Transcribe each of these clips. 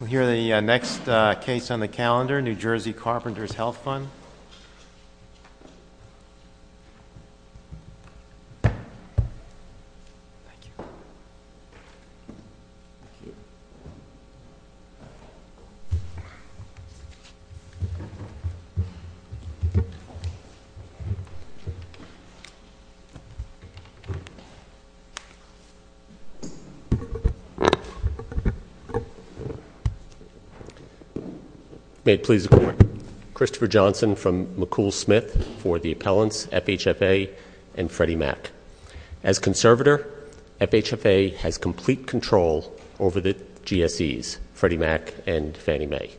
We'll hear the next case on the calendar, New Jersey Carpenters Health Fund. May it please the court. Christopher Johnson from McCool Smith for the appellants, FHFA and Freddie Mac. As conservator, FHFA has complete control over the GSEs, Freddie Mac and Fannie Mae.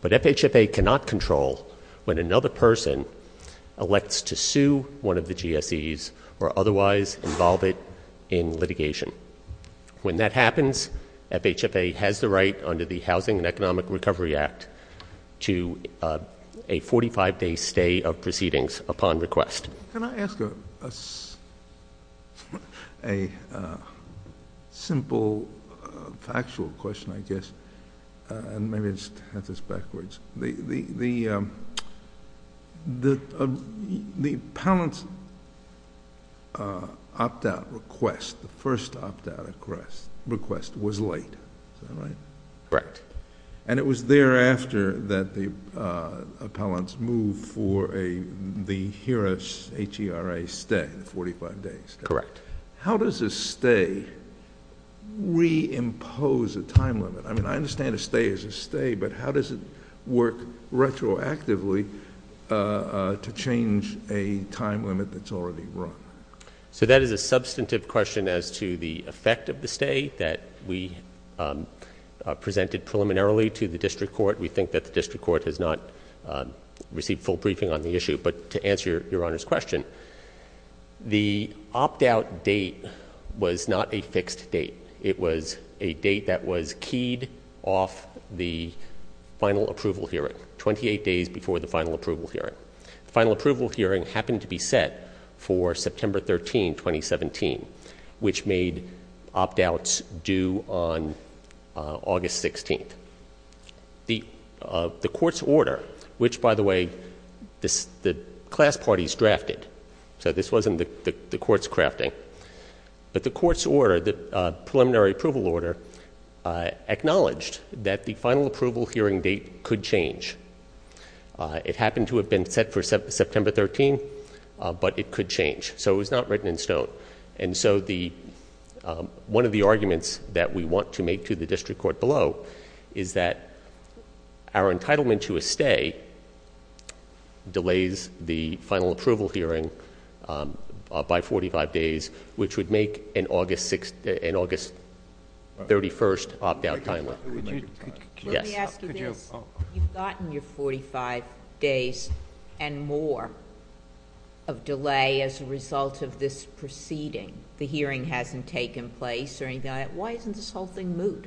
But FHFA cannot control when another person elects to sue one of the GSEs or otherwise involve it in litigation. When that happens, FHFA has the right under the Housing and Economic Recovery Act to a 45-day stay of proceedings upon request. Can I ask a simple factual question, I guess? The appellant's opt-out request, the first opt-out request, was late, is that right? Correct. And it was thereafter that the appellants moved for the HERA, H-E-R-A, stay, the 45-day stay. Correct. How does a stay reimpose a time limit? I mean, I understand a stay is a stay, but how does it work retroactively to change a time limit that's already run? So that is a substantive question as to the effect of the stay that we presented preliminarily to the district court. We think that the district court has not received full briefing on the issue. But to answer Your Honor's question, the opt-out date was not a fixed date. It was a date that was keyed off the final approval hearing, 28 days before the final approval hearing. The final approval hearing happened to be set for September 13, 2017, which made opt-outs due on August 16th. The court's order, which, by the way, the class parties drafted. So this wasn't the court's crafting. But the court's order, the preliminary approval order, acknowledged that the final approval hearing date could change. It happened to have been set for September 13, but it could change. So it was not written in stone. And so one of the arguments that we want to make to the district court below is that our entitlement to a stay delays the final approval hearing by 45 days, which would make an August 31st opt-out time limit. Let me ask you this. You've gotten your 45 days and more of delay as a result of this proceeding. The hearing hasn't taken place or anything like that. Why isn't this whole thing moot?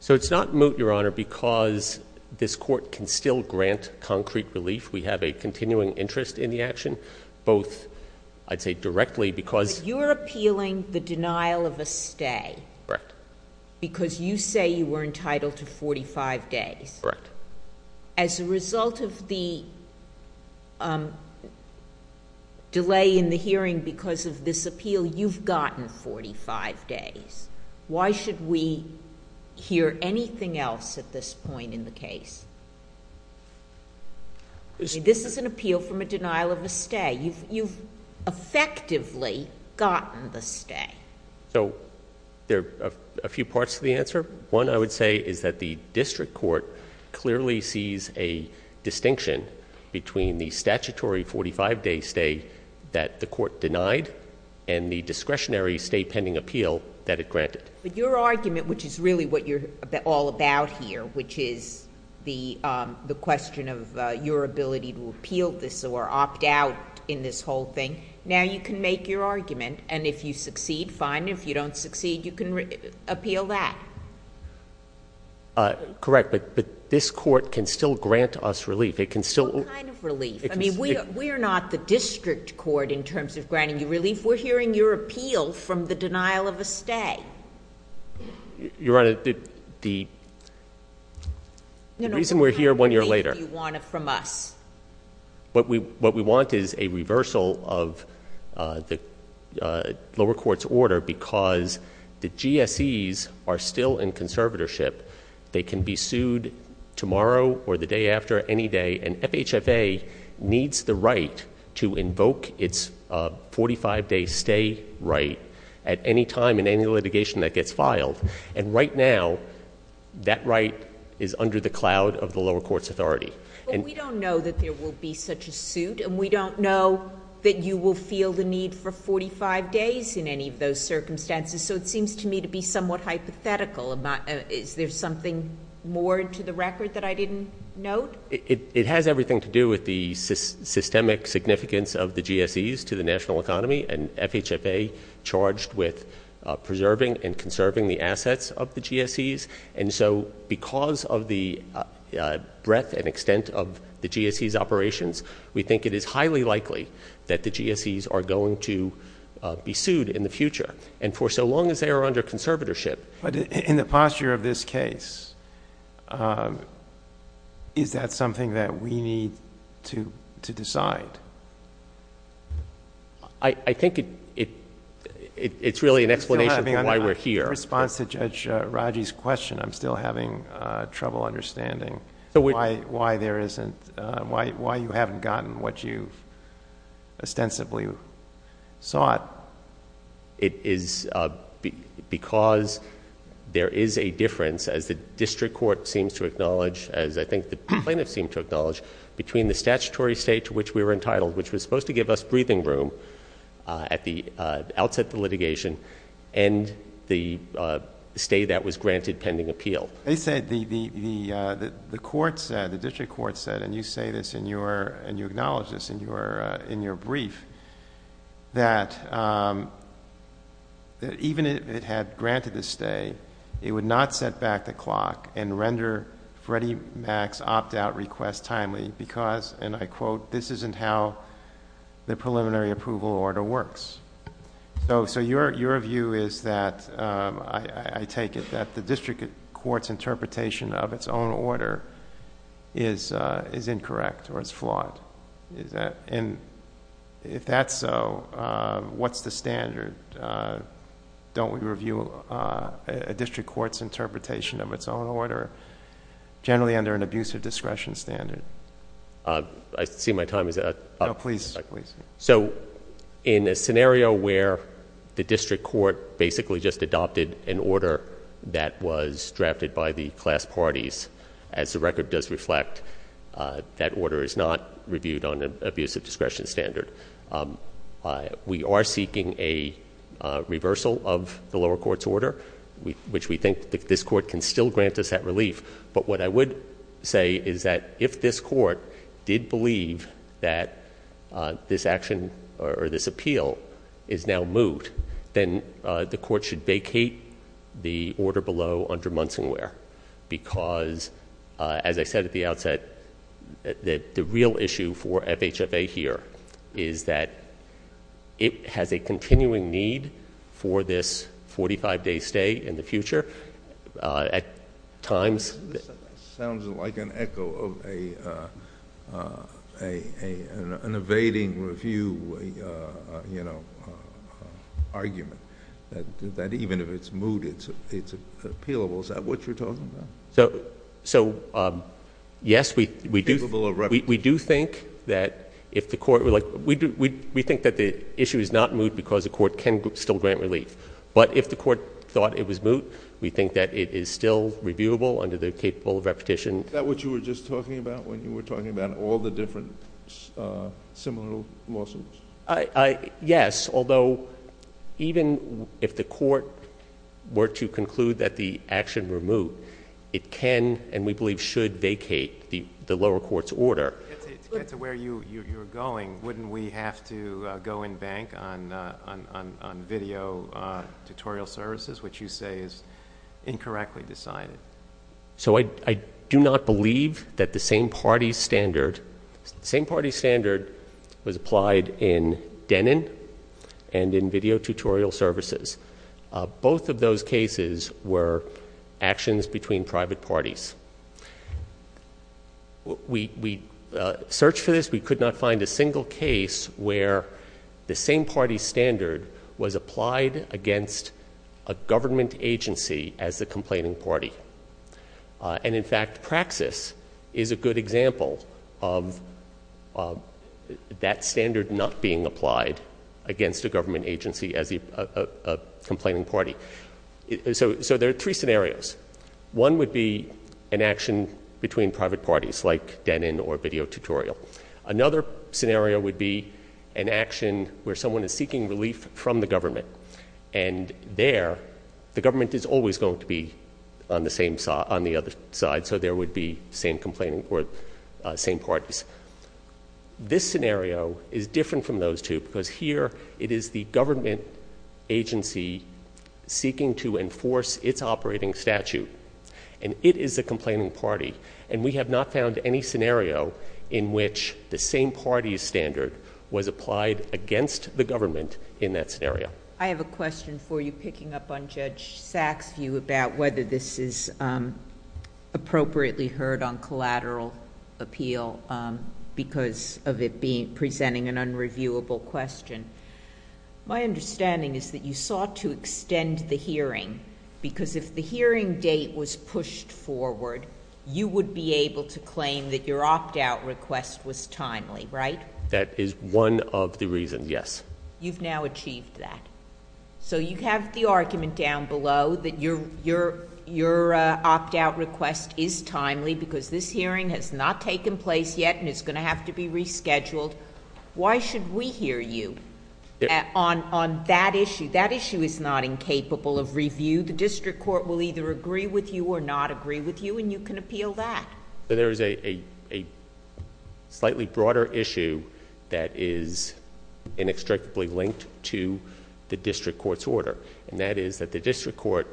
So it's not moot, Your Honor, because this court can still grant concrete relief. We have a continuing interest in the action, both, I'd say, directly because- But you're appealing the denial of a stay. Correct. Because you say you were entitled to 45 days. Correct. As a result of the delay in the hearing because of this appeal, you've gotten 45 days. Why should we hear anything else at this point in the case? This is an appeal from a denial of a stay. You've effectively gotten the stay. So there are a few parts to the answer. One, I would say, is that the district court clearly sees a distinction between the statutory 45-day stay that the court denied and the discretionary stay pending appeal that it granted. But your argument, which is really what you're all about here, which is the question of your ability to appeal this or opt out in this whole thing, now you can make your argument, and if you succeed, fine. If you don't succeed, you can appeal that. Correct. But this court can still grant us relief. What kind of relief? I mean, we are not the district court in terms of granting you relief. We're hearing your appeal from the denial of a stay. Your Honor, the reason we're here one year later- What kind of relief do you want from us? What we want is a reversal of the lower court's order because the GSEs are still in conservatorship. They can be sued tomorrow or the day after, any day, and FHFA needs the right to invoke its 45-day stay right at any time in any litigation that gets filed. And right now, that right is under the cloud of the lower court's authority. But we don't know that there will be such a suit, and we don't know that you will feel the need for 45 days in any of those circumstances, so it seems to me to be somewhat hypothetical. Is there something more to the record that I didn't note? It has everything to do with the systemic significance of the GSEs to the national economy, and FHFA charged with preserving and conserving the assets of the GSEs. And so because of the breadth and extent of the GSEs' operations, we think it is highly likely that the GSEs are going to be sued in the future. And for so long as they are under conservatorship- But in the posture of this case, is that something that we need to decide? I think it's really an explanation of why we're here. In response to Judge Raji's question, I'm still having trouble understanding why you haven't gotten what you ostensibly sought. It is because there is a difference, as the district court seems to acknowledge, as I think the plaintiffs seem to acknowledge, between the statutory state to which we were entitled, which was supposed to give us breathing room at the outset of the litigation, and the stay that was granted pending appeal. The district court said, and you say this and you acknowledge this in your brief, that even if it had granted the stay, it would not set back the clock and render Freddie Mac's opt-out request timely because, and I quote, this isn't how the preliminary approval order works. So your view is that, I take it, that the district court's interpretation of its own order is incorrect or is flawed. And if that's so, what's the standard? Don't we review a district court's interpretation of its own order, generally under an abusive discretion standard? I see my time is up. No, please. So in a scenario where the district court basically just adopted an order that was drafted by the class parties, as the record does reflect, that order is not reviewed on an abusive discretion standard. We are seeking a reversal of the lower court's order, which we think this court can still grant us that relief. But what I would say is that if this court did believe that this action or this appeal is now moved, then the court should vacate the order below under Munsonware because, as I said at the outset, the real issue for FHFA here is that it has a continuing need for this 45-day stay in the future. This sounds like an echo of an evading review argument, that even if it's moved, it's appealable. Is that what you're talking about? So, yes, we do think that the issue is not moved because the court can still grant relief. But if the court thought it was moved, we think that it is still reviewable under the capable repetition. Is that what you were just talking about when you were talking about all the different similar lawsuits? Yes, although even if the court were to conclude that the action were moved, it can and we believe should vacate the lower court's order. To get to where you're going, wouldn't we have to go in bank on video tutorial services, which you say is incorrectly decided? So I do not believe that the same-party standard was applied in Denon and in video tutorial services. Both of those cases were actions between private parties. We searched for this. We could not find a single case where the same-party standard was applied against a government agency as the complaining party. And, in fact, Praxis is a good example of that standard not being applied against a government agency as a complaining party. So there are three scenarios. One would be an action between private parties like Denon or video tutorial. Another scenario would be an action where someone is seeking relief from the government. And there, the government is always going to be on the other side, so there would be same parties. This scenario is different from those two because here it is the government agency seeking to enforce its operating statute. And it is a complaining party. And we have not found any scenario in which the same-party standard was applied against the government in that scenario. I have a question for you picking up on Judge Sachs' view about whether this is appropriately heard on collateral appeal because of it presenting an unreviewable question. My understanding is that you sought to extend the hearing because if the hearing date was pushed forward, you would be able to claim that your opt-out request was timely, right? That is one of the reasons, yes. You've now achieved that. So you have the argument down below that your opt-out request is timely because this hearing has not taken place yet and it's going to have to be rescheduled. Why should we hear you on that issue? That issue is not incapable of review. The district court will either agree with you or not agree with you, and you can appeal that. There is a slightly broader issue that is inextricably linked to the district court's order. And that is that the district court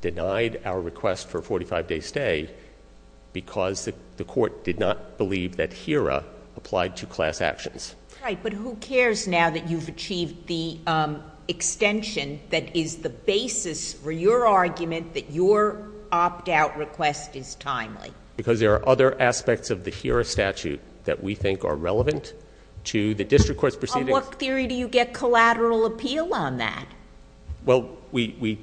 denied our request for a 45-day stay because the court did not believe that HERA applied to class actions. Right, but who cares now that you've achieved the extension that is the basis for your argument that your opt-out request is timely? Because there are other aspects of the HERA statute that we think are relevant to the district court's proceedings. On what theory do you get collateral appeal on that? Well, we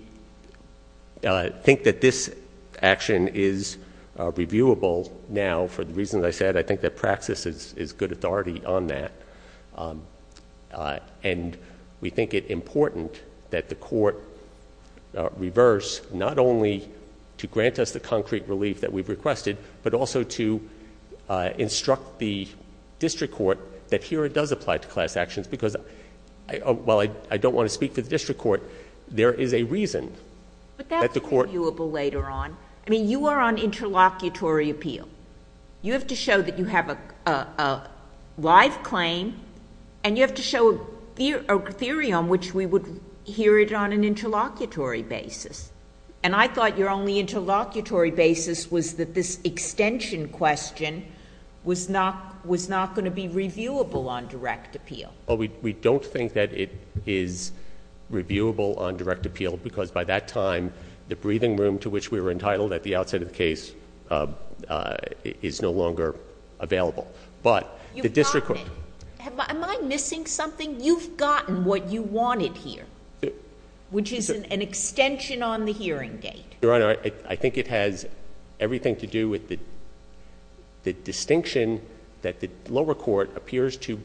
think that this action is reviewable now for the reasons I said. I think that praxis is good authority on that. And we think it important that the court reverse not only to grant us the concrete relief that we've requested, but also to instruct the district court that HERA does apply to class actions because, while I don't want to speak for the district court, there is a reason that the court— But that's reviewable later on. I mean, you are on interlocutory appeal. You have to show that you have a live claim, and you have to show a theory on which we would hear it on an interlocutory basis. And I thought your only interlocutory basis was that this extension question was not going to be reviewable on direct appeal. Well, we don't think that it is reviewable on direct appeal because, by that time, the breathing room to which we were entitled at the outset of the case is no longer available. But the district court— You've gotten it. Am I missing something? You've gotten what you wanted here, which is an extension on the hearing date. Your Honor, I think it has everything to do with the distinction that the lower court appears to—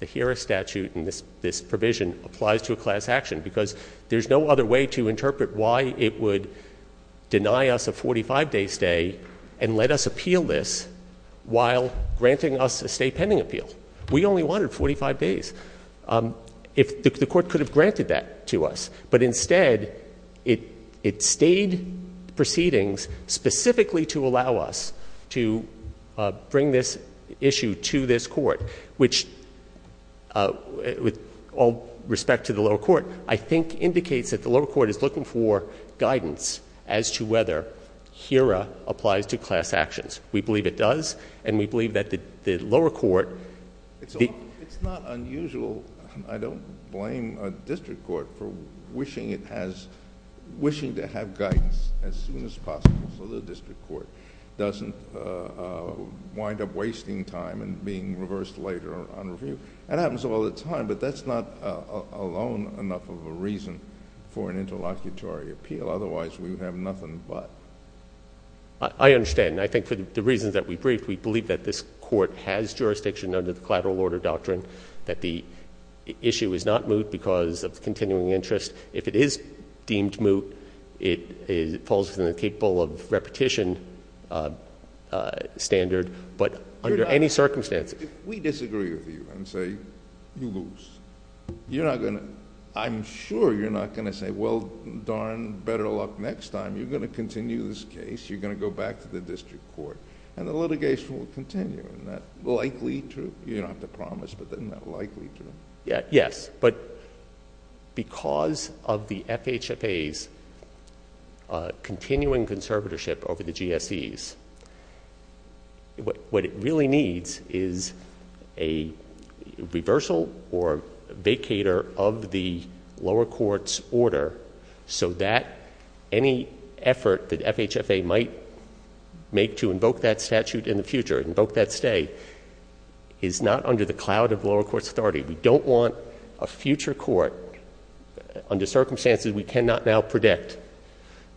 The HERA statute in this provision applies to a class action because there's no other way to interpret why it would deny us a 45-day stay and let us appeal this while granting us a stay pending appeal. We only wanted 45 days. The court could have granted that to us, but instead, it stayed proceedings specifically to allow us to bring this issue to this court, which, with all respect to the lower court, I think indicates that the lower court is looking for guidance as to whether HERA applies to class actions. We believe it does, and we believe that the lower court— It's not unusual—I don't blame the district court for wishing it has—wishing to have guidance as soon as possible so the district court doesn't wind up wasting time and being reversed later on review. That happens all the time, but that's not alone enough of a reason for an interlocutory appeal. Otherwise, we would have nothing but. I understand, and I think for the reasons that we briefed, we believe that this court has jurisdiction under the collateral order doctrine, that the issue is not moot because of the continuing interest. If it is deemed moot, it falls within the capable of repetition standard, but under any circumstances— If we disagree with you and say you lose, you're not going to—I'm sure you're not going to say, well, darn, better luck next time. You're going to continue this case. You're going to go back to the district court, and the litigation will continue. Isn't that likely true? You don't have to promise, but isn't that likely true? Yes, but because of the FHFA's continuing conservatorship over the GSEs, what it really needs is a reversal or vacator of the lower court's order so that any effort that FHFA might make to invoke that statute in the future, invoke that stay, is not under the cloud of lower court's authority. We don't want a future court, under circumstances we cannot now predict,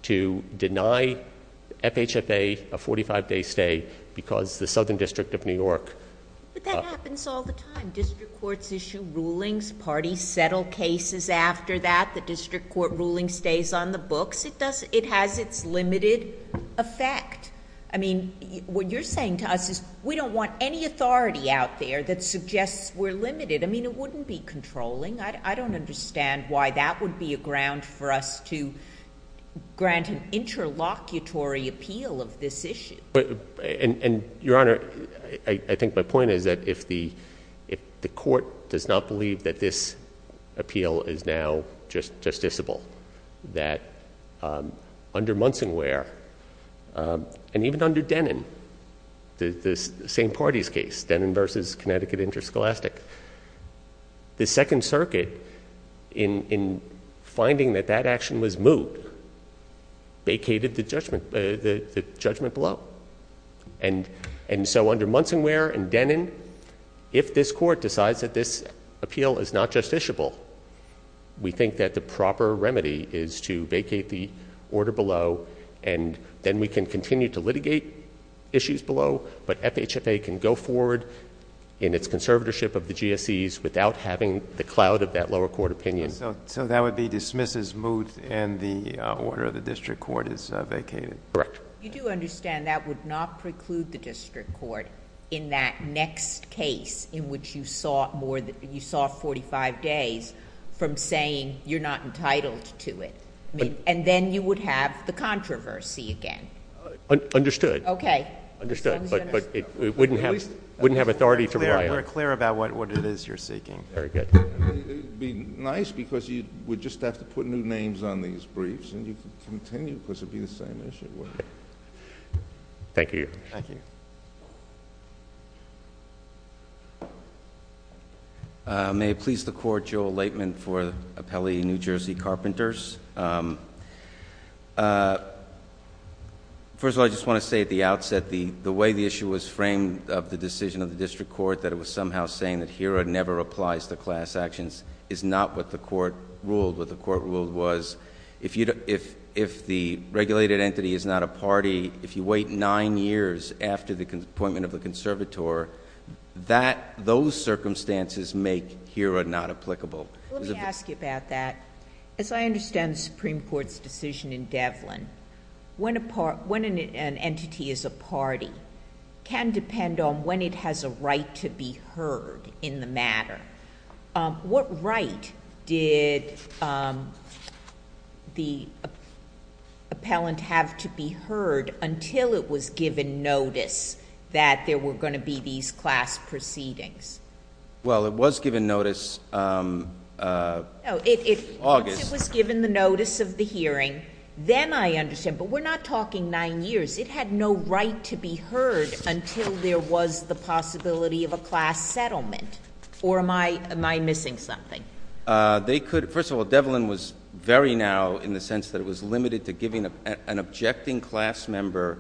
to deny FHFA a 45-day stay because the Southern District of New York— But that happens all the time. District courts issue rulings. Parties settle cases after that. The district court ruling stays on the books. It has its limited effect. I mean, what you're saying to us is we don't want any authority out there that suggests we're limited. I mean, it wouldn't be controlling. I don't understand why that would be a ground for us to grant an interlocutory appeal of this issue. Your Honor, I think my point is that if the court does not believe that this appeal is now justiciable, that under Munsonware and even under Denin, the same party's case, Denin v. Connecticut Interscholastic, the Second Circuit, in finding that that action was moved, vacated the judgment below. And so under Munsonware and Denin, if this court decides that this appeal is not justiciable, we think that the proper remedy is to vacate the order below, and then we can continue to litigate issues below, but FHFA can go forward in its conservatorship of the GSEs without having the cloud of that lower court opinion. So that would be dismisses, moves, and the order of the district court is vacated? Correct. You do understand that would not preclude the district court in that next case in which you saw 45 days from saying you're not entitled to it, and then you would have the controversy again? Understood. Okay. Understood. But it wouldn't have authority to require it. We're clear about what it is you're seeking. Very good. It would be nice because you would just have to put new names on these briefs, and you could continue because it would be the same issue. Thank you. Thank you. May it please the Court, Joe Laitman for the appellee New Jersey Carpenters. First of all, I just want to say at the outset the way the issue was framed of the decision of the district court, that it was somehow saying that HERA never applies to class actions is not what the court ruled. What the court ruled was if the regulated entity is not a party, if you wait nine years after the appointment of the conservator, those circumstances make HERA not applicable. Let me ask you about that. As I understand the Supreme Court's decision in Devlin, when an entity is a party can depend on when it has a right to be heard in the matter. What right did the appellant have to be heard until it was given notice that there were going to be these class proceedings? Well, it was given notice in August. Once it was given the notice of the hearing, then I understand. But we're not talking nine years. It had no right to be heard until there was the possibility of a class settlement. Or am I missing something? First of all, Devlin was very narrow in the sense that it was limited to giving an objecting class member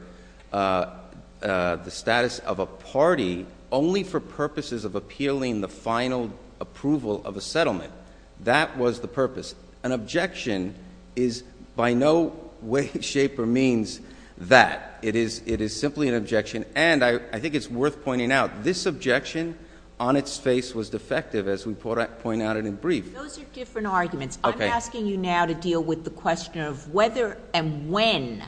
the status of a party only for purposes of appealing the final approval of a settlement. That was the purpose. An objection is by no way, shape, or means that. It is simply an objection. And I think it's worth pointing out, this objection on its face was defective, as we pointed out in a brief. Those are different arguments. I'm asking you now to deal with the question of whether and when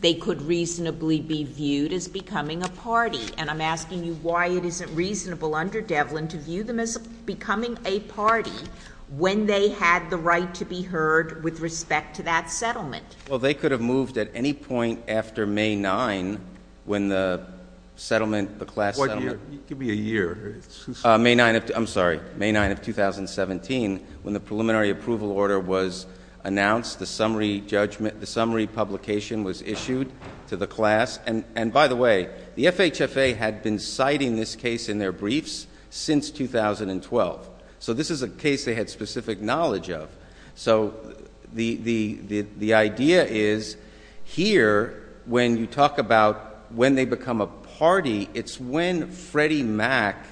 they could reasonably be viewed as becoming a party. And I'm asking you why it isn't reasonable under Devlin to view them as becoming a party when they had the right to be heard with respect to that settlement. Well, they could have moved at any point after May 9 when the settlement, the class settlement. It could be a year. May 9 of, I'm sorry, May 9 of 2017 when the preliminary approval order was announced, the summary judgment, the summary publication was issued to the class. And by the way, the FHFA had been citing this case in their briefs since 2012. So this is a case they had specific knowledge of. So the idea is here when you talk about when they become a party, it's when Freddie Mac,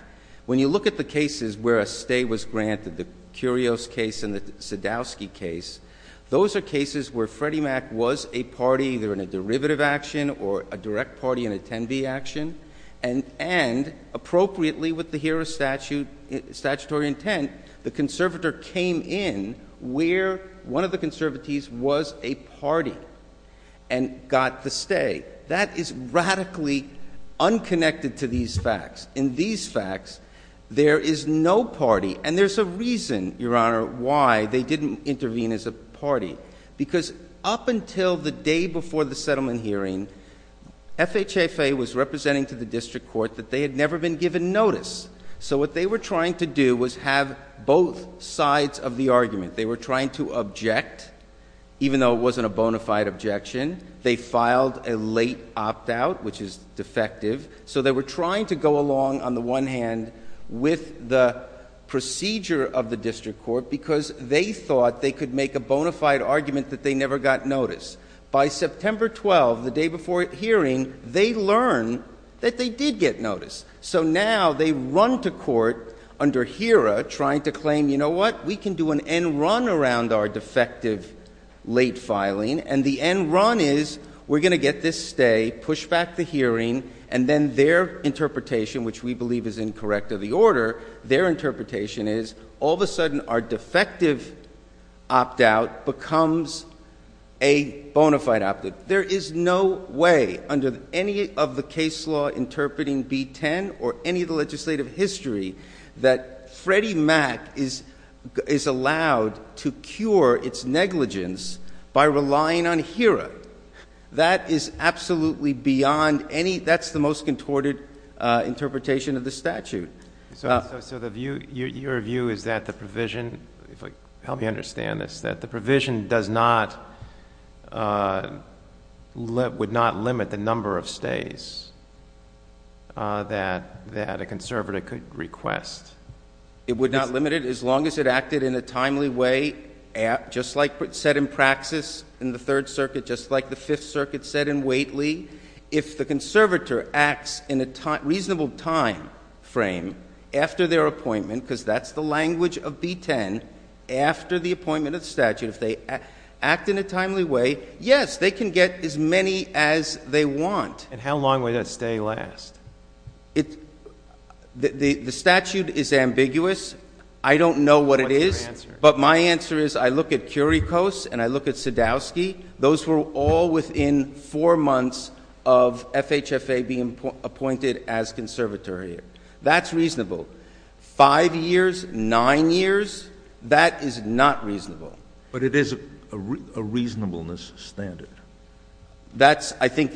when you look at the cases where a stay was granted, the Curios case and the Sadowski case, those are cases where Freddie Mac was a party either in a derivative action or a direct party in a 10B action. And appropriately with the HERO Statutory intent, the conservator came in where one of the conservatees was a party and got the stay. That is radically unconnected to these facts. In these facts, there is no party. And there's a reason, Your Honor, why they didn't intervene as a party. Because up until the day before the settlement hearing, FHFA was representing to the district court that they had never been given notice. So what they were trying to do was have both sides of the argument. They were trying to object, even though it wasn't a bona fide objection. They filed a late opt-out, which is defective. So they were trying to go along on the one hand with the procedure of the district court because they thought they could make a bona fide argument that they never got notice. By September 12, the day before hearing, they learned that they did get notice. So now they run to court under HERA trying to claim, you know what, we can do an end run around our defective late filing. And the end run is we're going to get this stay, push back the hearing. And then their interpretation, which we believe is incorrect of the order, their interpretation is all of a sudden our defective opt-out becomes a bona fide opt-out. There is no way under any of the case law interpreting B-10 or any of the legislative history that Freddie Mac is allowed to cure its negligence by relying on HERA. That is absolutely beyond any, that's the most contorted interpretation of the statute. So your view is that the provision, help me understand this, that the provision does not, would not limit the number of stays that a conservator could request? It would not limit it as long as it acted in a timely way, just like it said in praxis in the Third Circuit, just like the Fifth Circuit said in Waitley. If the conservator acts in a reasonable time frame after their appointment, because that's the language of B-10, after the appointment of the statute, if they act in a timely way, yes, they can get as many as they want. And how long would that stay last? The statute is ambiguous. I don't know what it is. What's your answer? But my answer is I look at Curicos and I look at Sadowski. Those were all within four months of FHFA being appointed as conservatory. That's reasonable. Five years, nine years, that is not reasonable. But it is a reasonableness standard. That's, I think,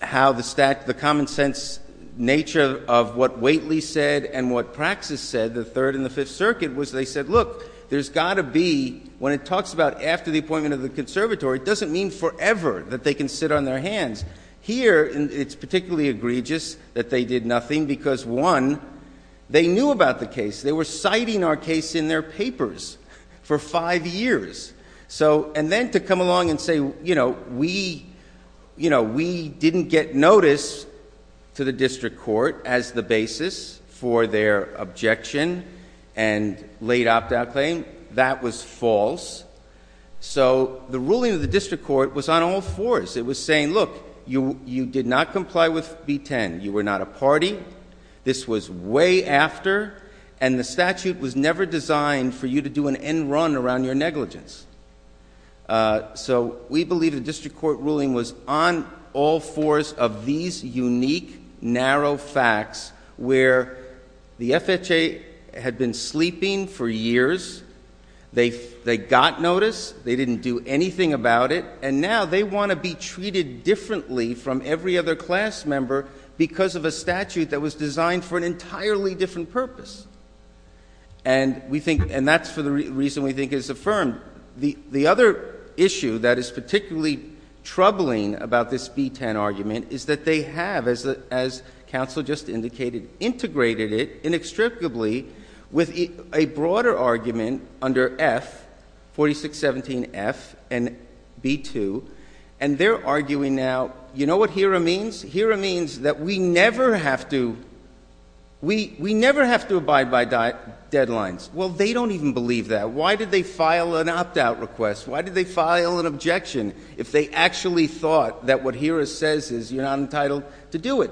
how the common sense nature of what Waitley said and what praxis said, the Third and the Fifth Circuit, was they said, look, there's got to be, when it talks about after the appointment of the conservatory, it doesn't mean forever that they can sit on their hands. Here, it's particularly egregious that they did nothing because, one, they knew about the case. They were citing our case in their papers for five years. And then to come along and say, you know, we didn't get notice to the district court as the basis for their objection and late opt-out claim, that was false. So the ruling of the district court was on all fours. It was saying, look, you did not comply with B-10. You were not a party. This was way after. And the statute was never designed for you to do an end run around your negligence. So we believe the district court ruling was on all fours of these unique, narrow facts where the FHFA had been sleeping for years. They got notice. They didn't do anything about it. And now they want to be treated differently from every other class member because of a statute that was designed for an entirely different purpose. And that's for the reason we think is affirmed. The other issue that is particularly troubling about this B-10 argument is that they have, as counsel just indicated, integrated it inextricably with a broader argument under F, 4617F and B-2. And they're arguing now, you know what HERA means? HERA means that we never have to abide by deadlines. Well, they don't even believe that. Why did they file an opt-out request? Why did they file an objection if they actually thought that what HERA says is you're not entitled to do it?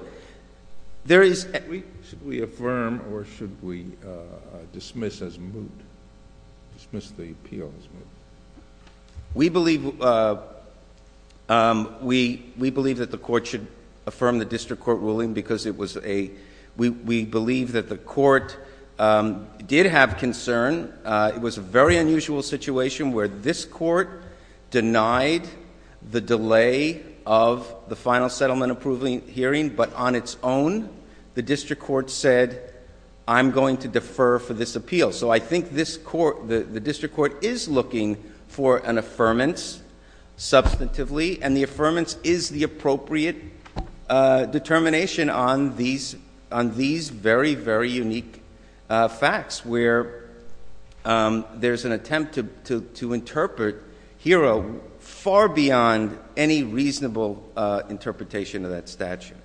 Should we affirm or should we dismiss as moot? Dismiss the appeal as moot. We believe that the court should affirm the district court ruling because we believe that the court did have concern. It was a very unusual situation where this court denied the delay of the final settlement approval hearing, but on its own, the district court said, I'm going to defer for this appeal. So I think the district court is looking for an affirmance substantively, and the affirmance is the appropriate determination on these very, very unique facts where there's an attempt to interpret HERA far beyond any reasonable interpretation of that statute.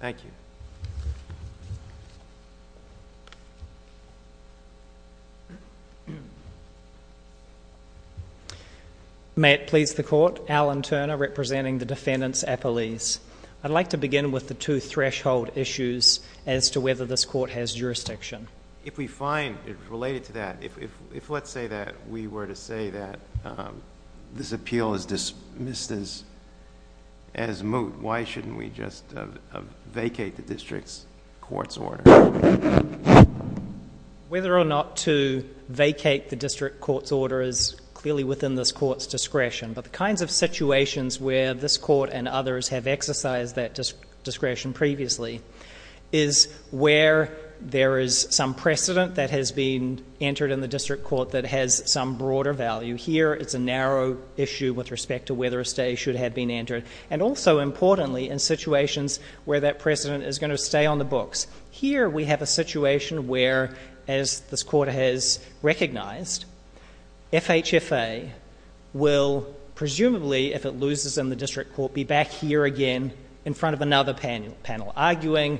Thank you. May it please the court, Alan Turner representing the defendants' appellees. I'd like to begin with the two threshold issues as to whether this court has jurisdiction. If we find it related to that, if let's say that we were to say that this court has jurisdiction as moot, why shouldn't we just vacate the district court's order? Whether or not to vacate the district court's order is clearly within this court's discretion, but the kinds of situations where this court and others have exercised that discretion previously is where there is some precedent that has been entered in the district court that has some broader value. Here it's a narrow issue with respect to whether a stay should have been entered. And also, importantly, in situations where that precedent is going to stay on the books. Here we have a situation where, as this court has recognized, FHFA will presumably, if it loses in the district court, be back here again in front of another panel, arguing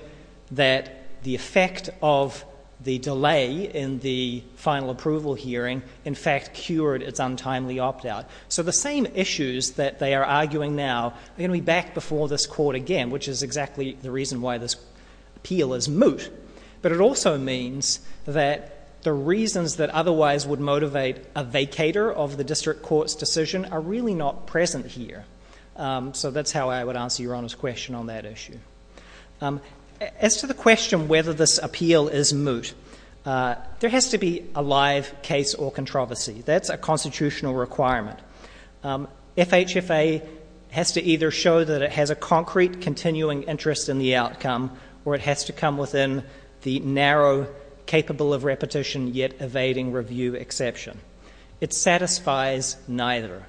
that the effect of the delay in the final approval hearing, in fact, cured its untimely opt-out. So the same issues that they are arguing now are going to be back before this court again, which is exactly the reason why this appeal is moot. But it also means that the reasons that otherwise would motivate a vacater of the district court's decision are really not present here. So that's how I would answer Your Honor's question on that issue. As to the question whether this appeal is moot, there has to be a live case or controversy. That's a constitutional requirement. FHFA has to either show that it has a concrete, continuing interest in the outcome, or it has to come within the narrow, capable-of-repetition-yet- evading-review exception. It satisfies neither.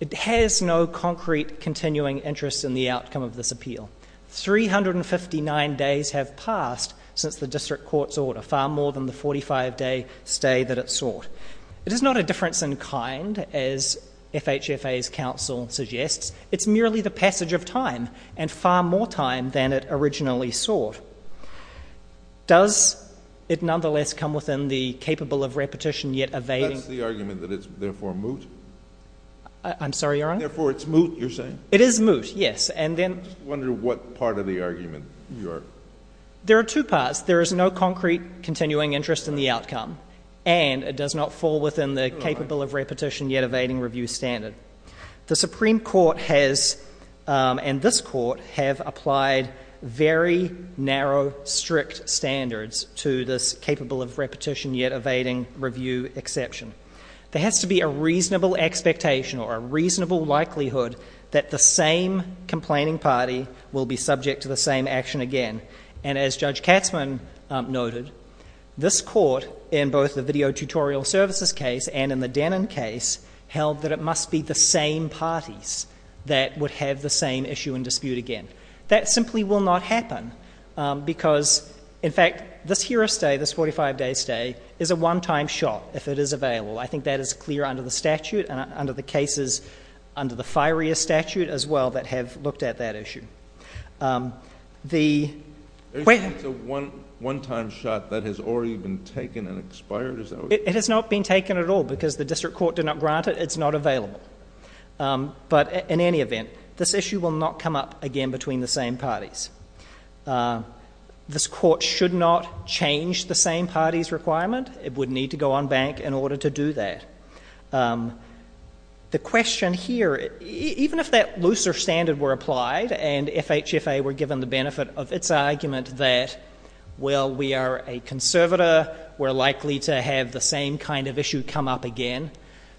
It has no concrete, continuing interest in the outcome of this appeal. Three hundred and fifty-nine days have passed since the district court's order, far more than the 45-day stay that it sought. It is not a difference in kind, as FHFA's counsel suggests. It's merely the passage of time, and far more time than it originally sought. Does it nonetheless come within the capable-of-repetition-yet-evading... That's the argument, that it's therefore moot? I'm sorry, Your Honor? Therefore it's moot, you're saying? It is moot, yes. And then... I'm just wondering what part of the argument you are... There are two parts. There is no concrete, continuing interest in the outcome, and it does not fall within the capable-of-repetition-yet-evading-review standard. The Supreme Court has, and this Court, have applied very narrow, strict standards to this capable-of-repetition-yet-evading-review exception. There has to be a reasonable expectation, or a reasonable likelihood, that the same complaining party will be subject to the same action again. And as Judge Katzmann noted, this Court, in both the Video Tutorial Services case and in the Denon case, held that it must be the same parties that would have the same issue and dispute again. That simply will not happen because, in fact, this Hearest Day, this 45-day stay, is a one-time shot if it is available. I think that is clear under the statute and under the cases under the FIREA statute as well that have looked at that issue. The... It's a one-time shot that has already been taken and expired? It has not been taken at all because the District Court did not grant it. It's not available. But in any event, this issue will not come up again between the same parties. This Court should not change the same parties' requirement. It would need to go on bank in order to do that. The question here, even if that looser standard were applied and FHFA were given the benefit of its argument that, well, we are a conservator, we're likely to have the same kind of issue come up again,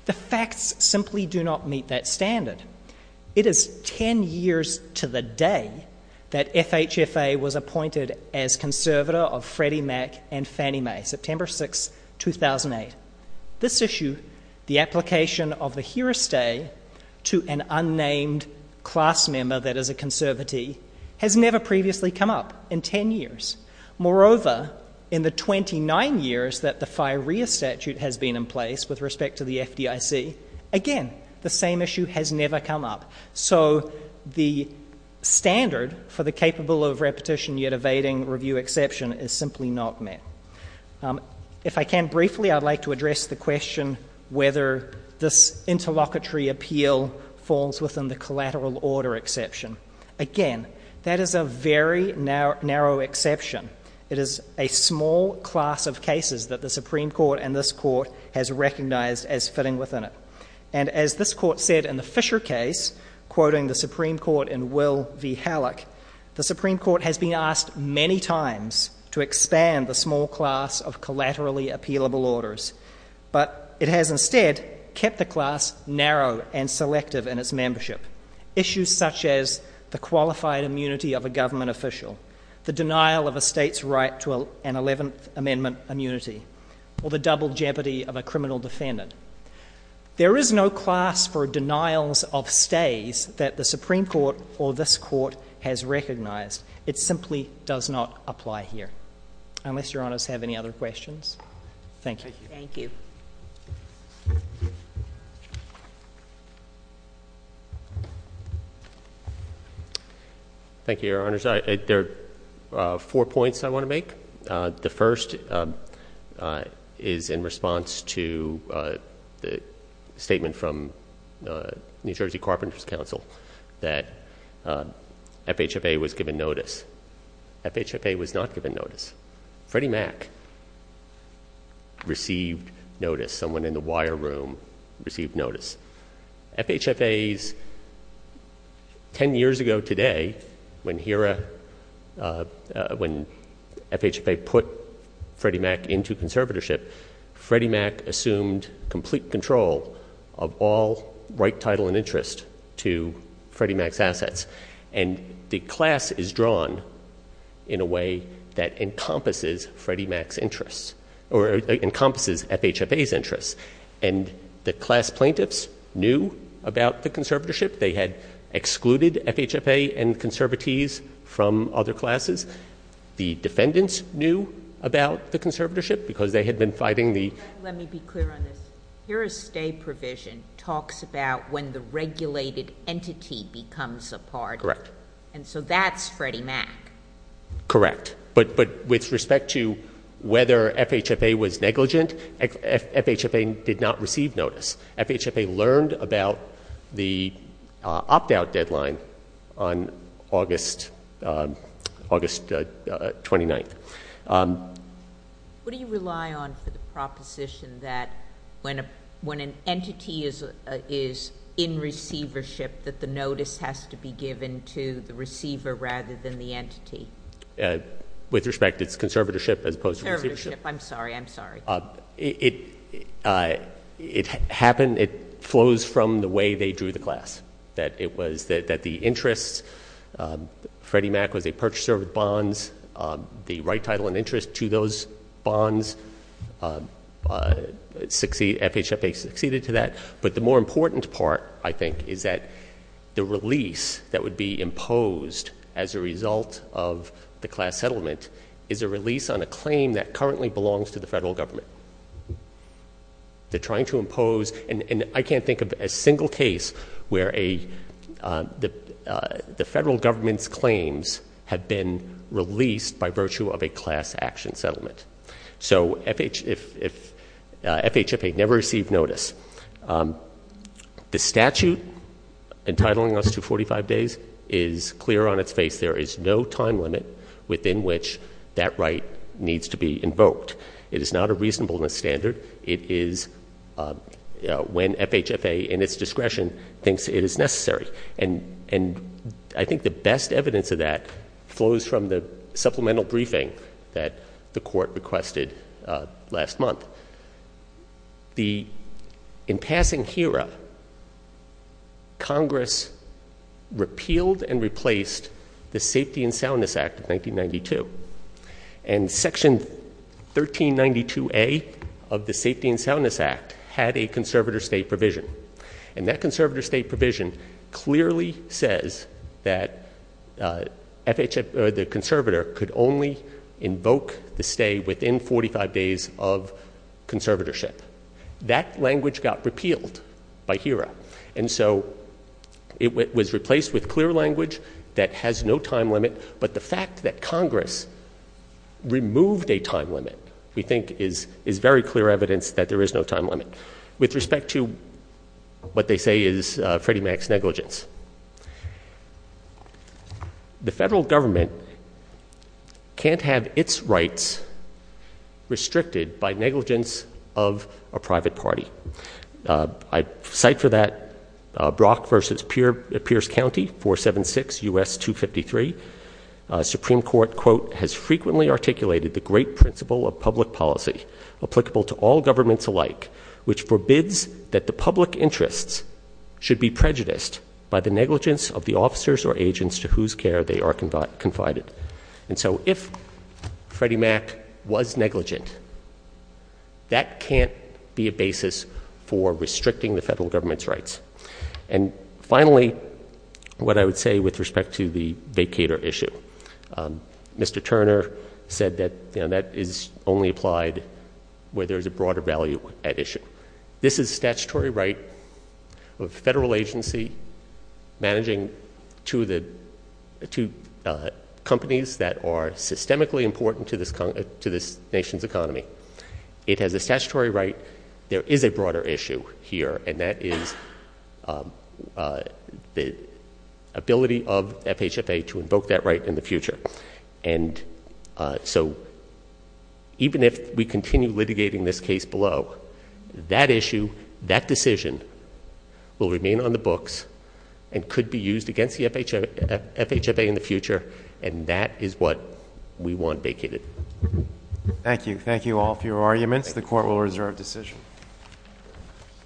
the facts simply do not meet that standard. It is ten years to the day that FHFA was appointed as conservator of Freddie Mac and Fannie Mae, September 6, 2008. This issue, the application of the Hearest Day to an unnamed class member that is a conservatee, has never previously come up in ten years. Moreover, in the 29 years that the FIREA statute has been in place with respect to the FDIC, again, the same issue has never come up. So the standard for the capable of repetition yet evading review exception is simply not met. If I can, briefly, I'd like to address the question whether this interlocutory appeal falls within the collateral order exception. Again, that is a very narrow exception. It is a small class of cases that the Supreme Court and this Court has recognized as fitting within it. And as this Court said in the Fisher case, quoting the Supreme Court in Will v. Halleck, the Supreme Court has been asked many times to expand the small class of collaterally appealable orders, but it has instead kept the class narrow and selective in its membership. Issues such as the qualified immunity of a government official, the denial of a state's right to an 11th Amendment immunity, or the double longevity of a criminal defendant. There is no class for denials of stays that the Supreme Court or this Court has recognized. It simply does not apply here. Unless Your Honors have any other questions. Thank you. Thank you. Thank you, Your Honors. There are four points I want to make. The first is in response to the statement from New Jersey Carpenters Council that FHFA was given notice. FHFA was not given notice. Freddie Mac received notice. Someone in the wire room received notice. FHFA's 10 years ago today, when FHFA put Freddie Mac into conservatorship, Freddie Mac assumed complete control of all right title and interest to Freddie Mac's assets. And the class is drawn in a way that encompasses Freddie Mac's assets. And the class plaintiffs knew about the conservatorship. They had excluded FHFA and conservatees from other classes. The defendants knew about the conservatorship because they had been fighting the— Let me be clear on this. Your stay provision talks about when the regulated entity becomes a party. Correct. And so that's Freddie Mac. Correct. But with respect to whether FHFA was negligent, FHFA did not receive notice. FHFA learned about the opt-out deadline on August 29th. What do you rely on for the proposition that when an entity is in receivership that the notice has to be given to the receiver rather than the entity? With respect, it's conservatorship as opposed to receivership. Conservatorship. I'm sorry. I'm sorry. It happened. It flows from the way they drew the class, that it was that the interests—Freddie Mac was a purchaser of bonds. The right title and interest to those bonds, FHFA succeeded to that. But the more important part, I think, is that the release that would be a result of the class settlement is a release on a claim that currently belongs to the federal government. They're trying to impose—and I can't think of a single case where the federal government's claims have been released by virtue of a class action settlement. So FHFA never received notice. The statute entitling us to 45 days is clear on its face. There is no time limit within which that right needs to be invoked. It is not a reasonableness standard. It is when FHFA, in its discretion, thinks it is necessary. And I think the best evidence of that flows from the supplemental briefing that the Court requested last month. In passing HERA, Congress repealed and replaced the Safety and Soundness Act of 1992. And Section 1392A of the Safety and Soundness Act had a conservator's stay provision. And that conservator's stay provision clearly says that the conservator could only invoke the stay within 45 days of conservatorship. That language got repealed by HERA. And so it was replaced with clear language that has no time limit. But the fact that Congress removed a time limit we think is very clear evidence that there is no time limit. With respect to what they say is Freddie Mac's negligence, the federal government can't have its rights restricted by negligence of a private party. I cite for that Brock v. Pierce County, 476 U.S. 253. Supreme Court, quote, has frequently articulated the great principle of public policy applicable to all governments alike, which forbids that the public interests should be prejudiced by the negligence of the officers or agents to whose care they are confided. And so if Freddie Mac was negligent, that can't be a basis for restricting the federal government's rights. And finally, what I would say with respect to the vacator issue, Mr. Turner said that that is only applied where there is a broader value at issue. This is statutory right of federal agency managing two companies that are systemically important to this nation's economy. It has a statutory right. There is a broader issue here, and that is the ability of FHFA to invoke that right in the future. And so even if we continue litigating this case below, that issue, that decision will remain on the books and could be used against the FHFA in the future, and that is what we want vacated. Thank you. Thank you all for your arguments. The Court will reserve decision.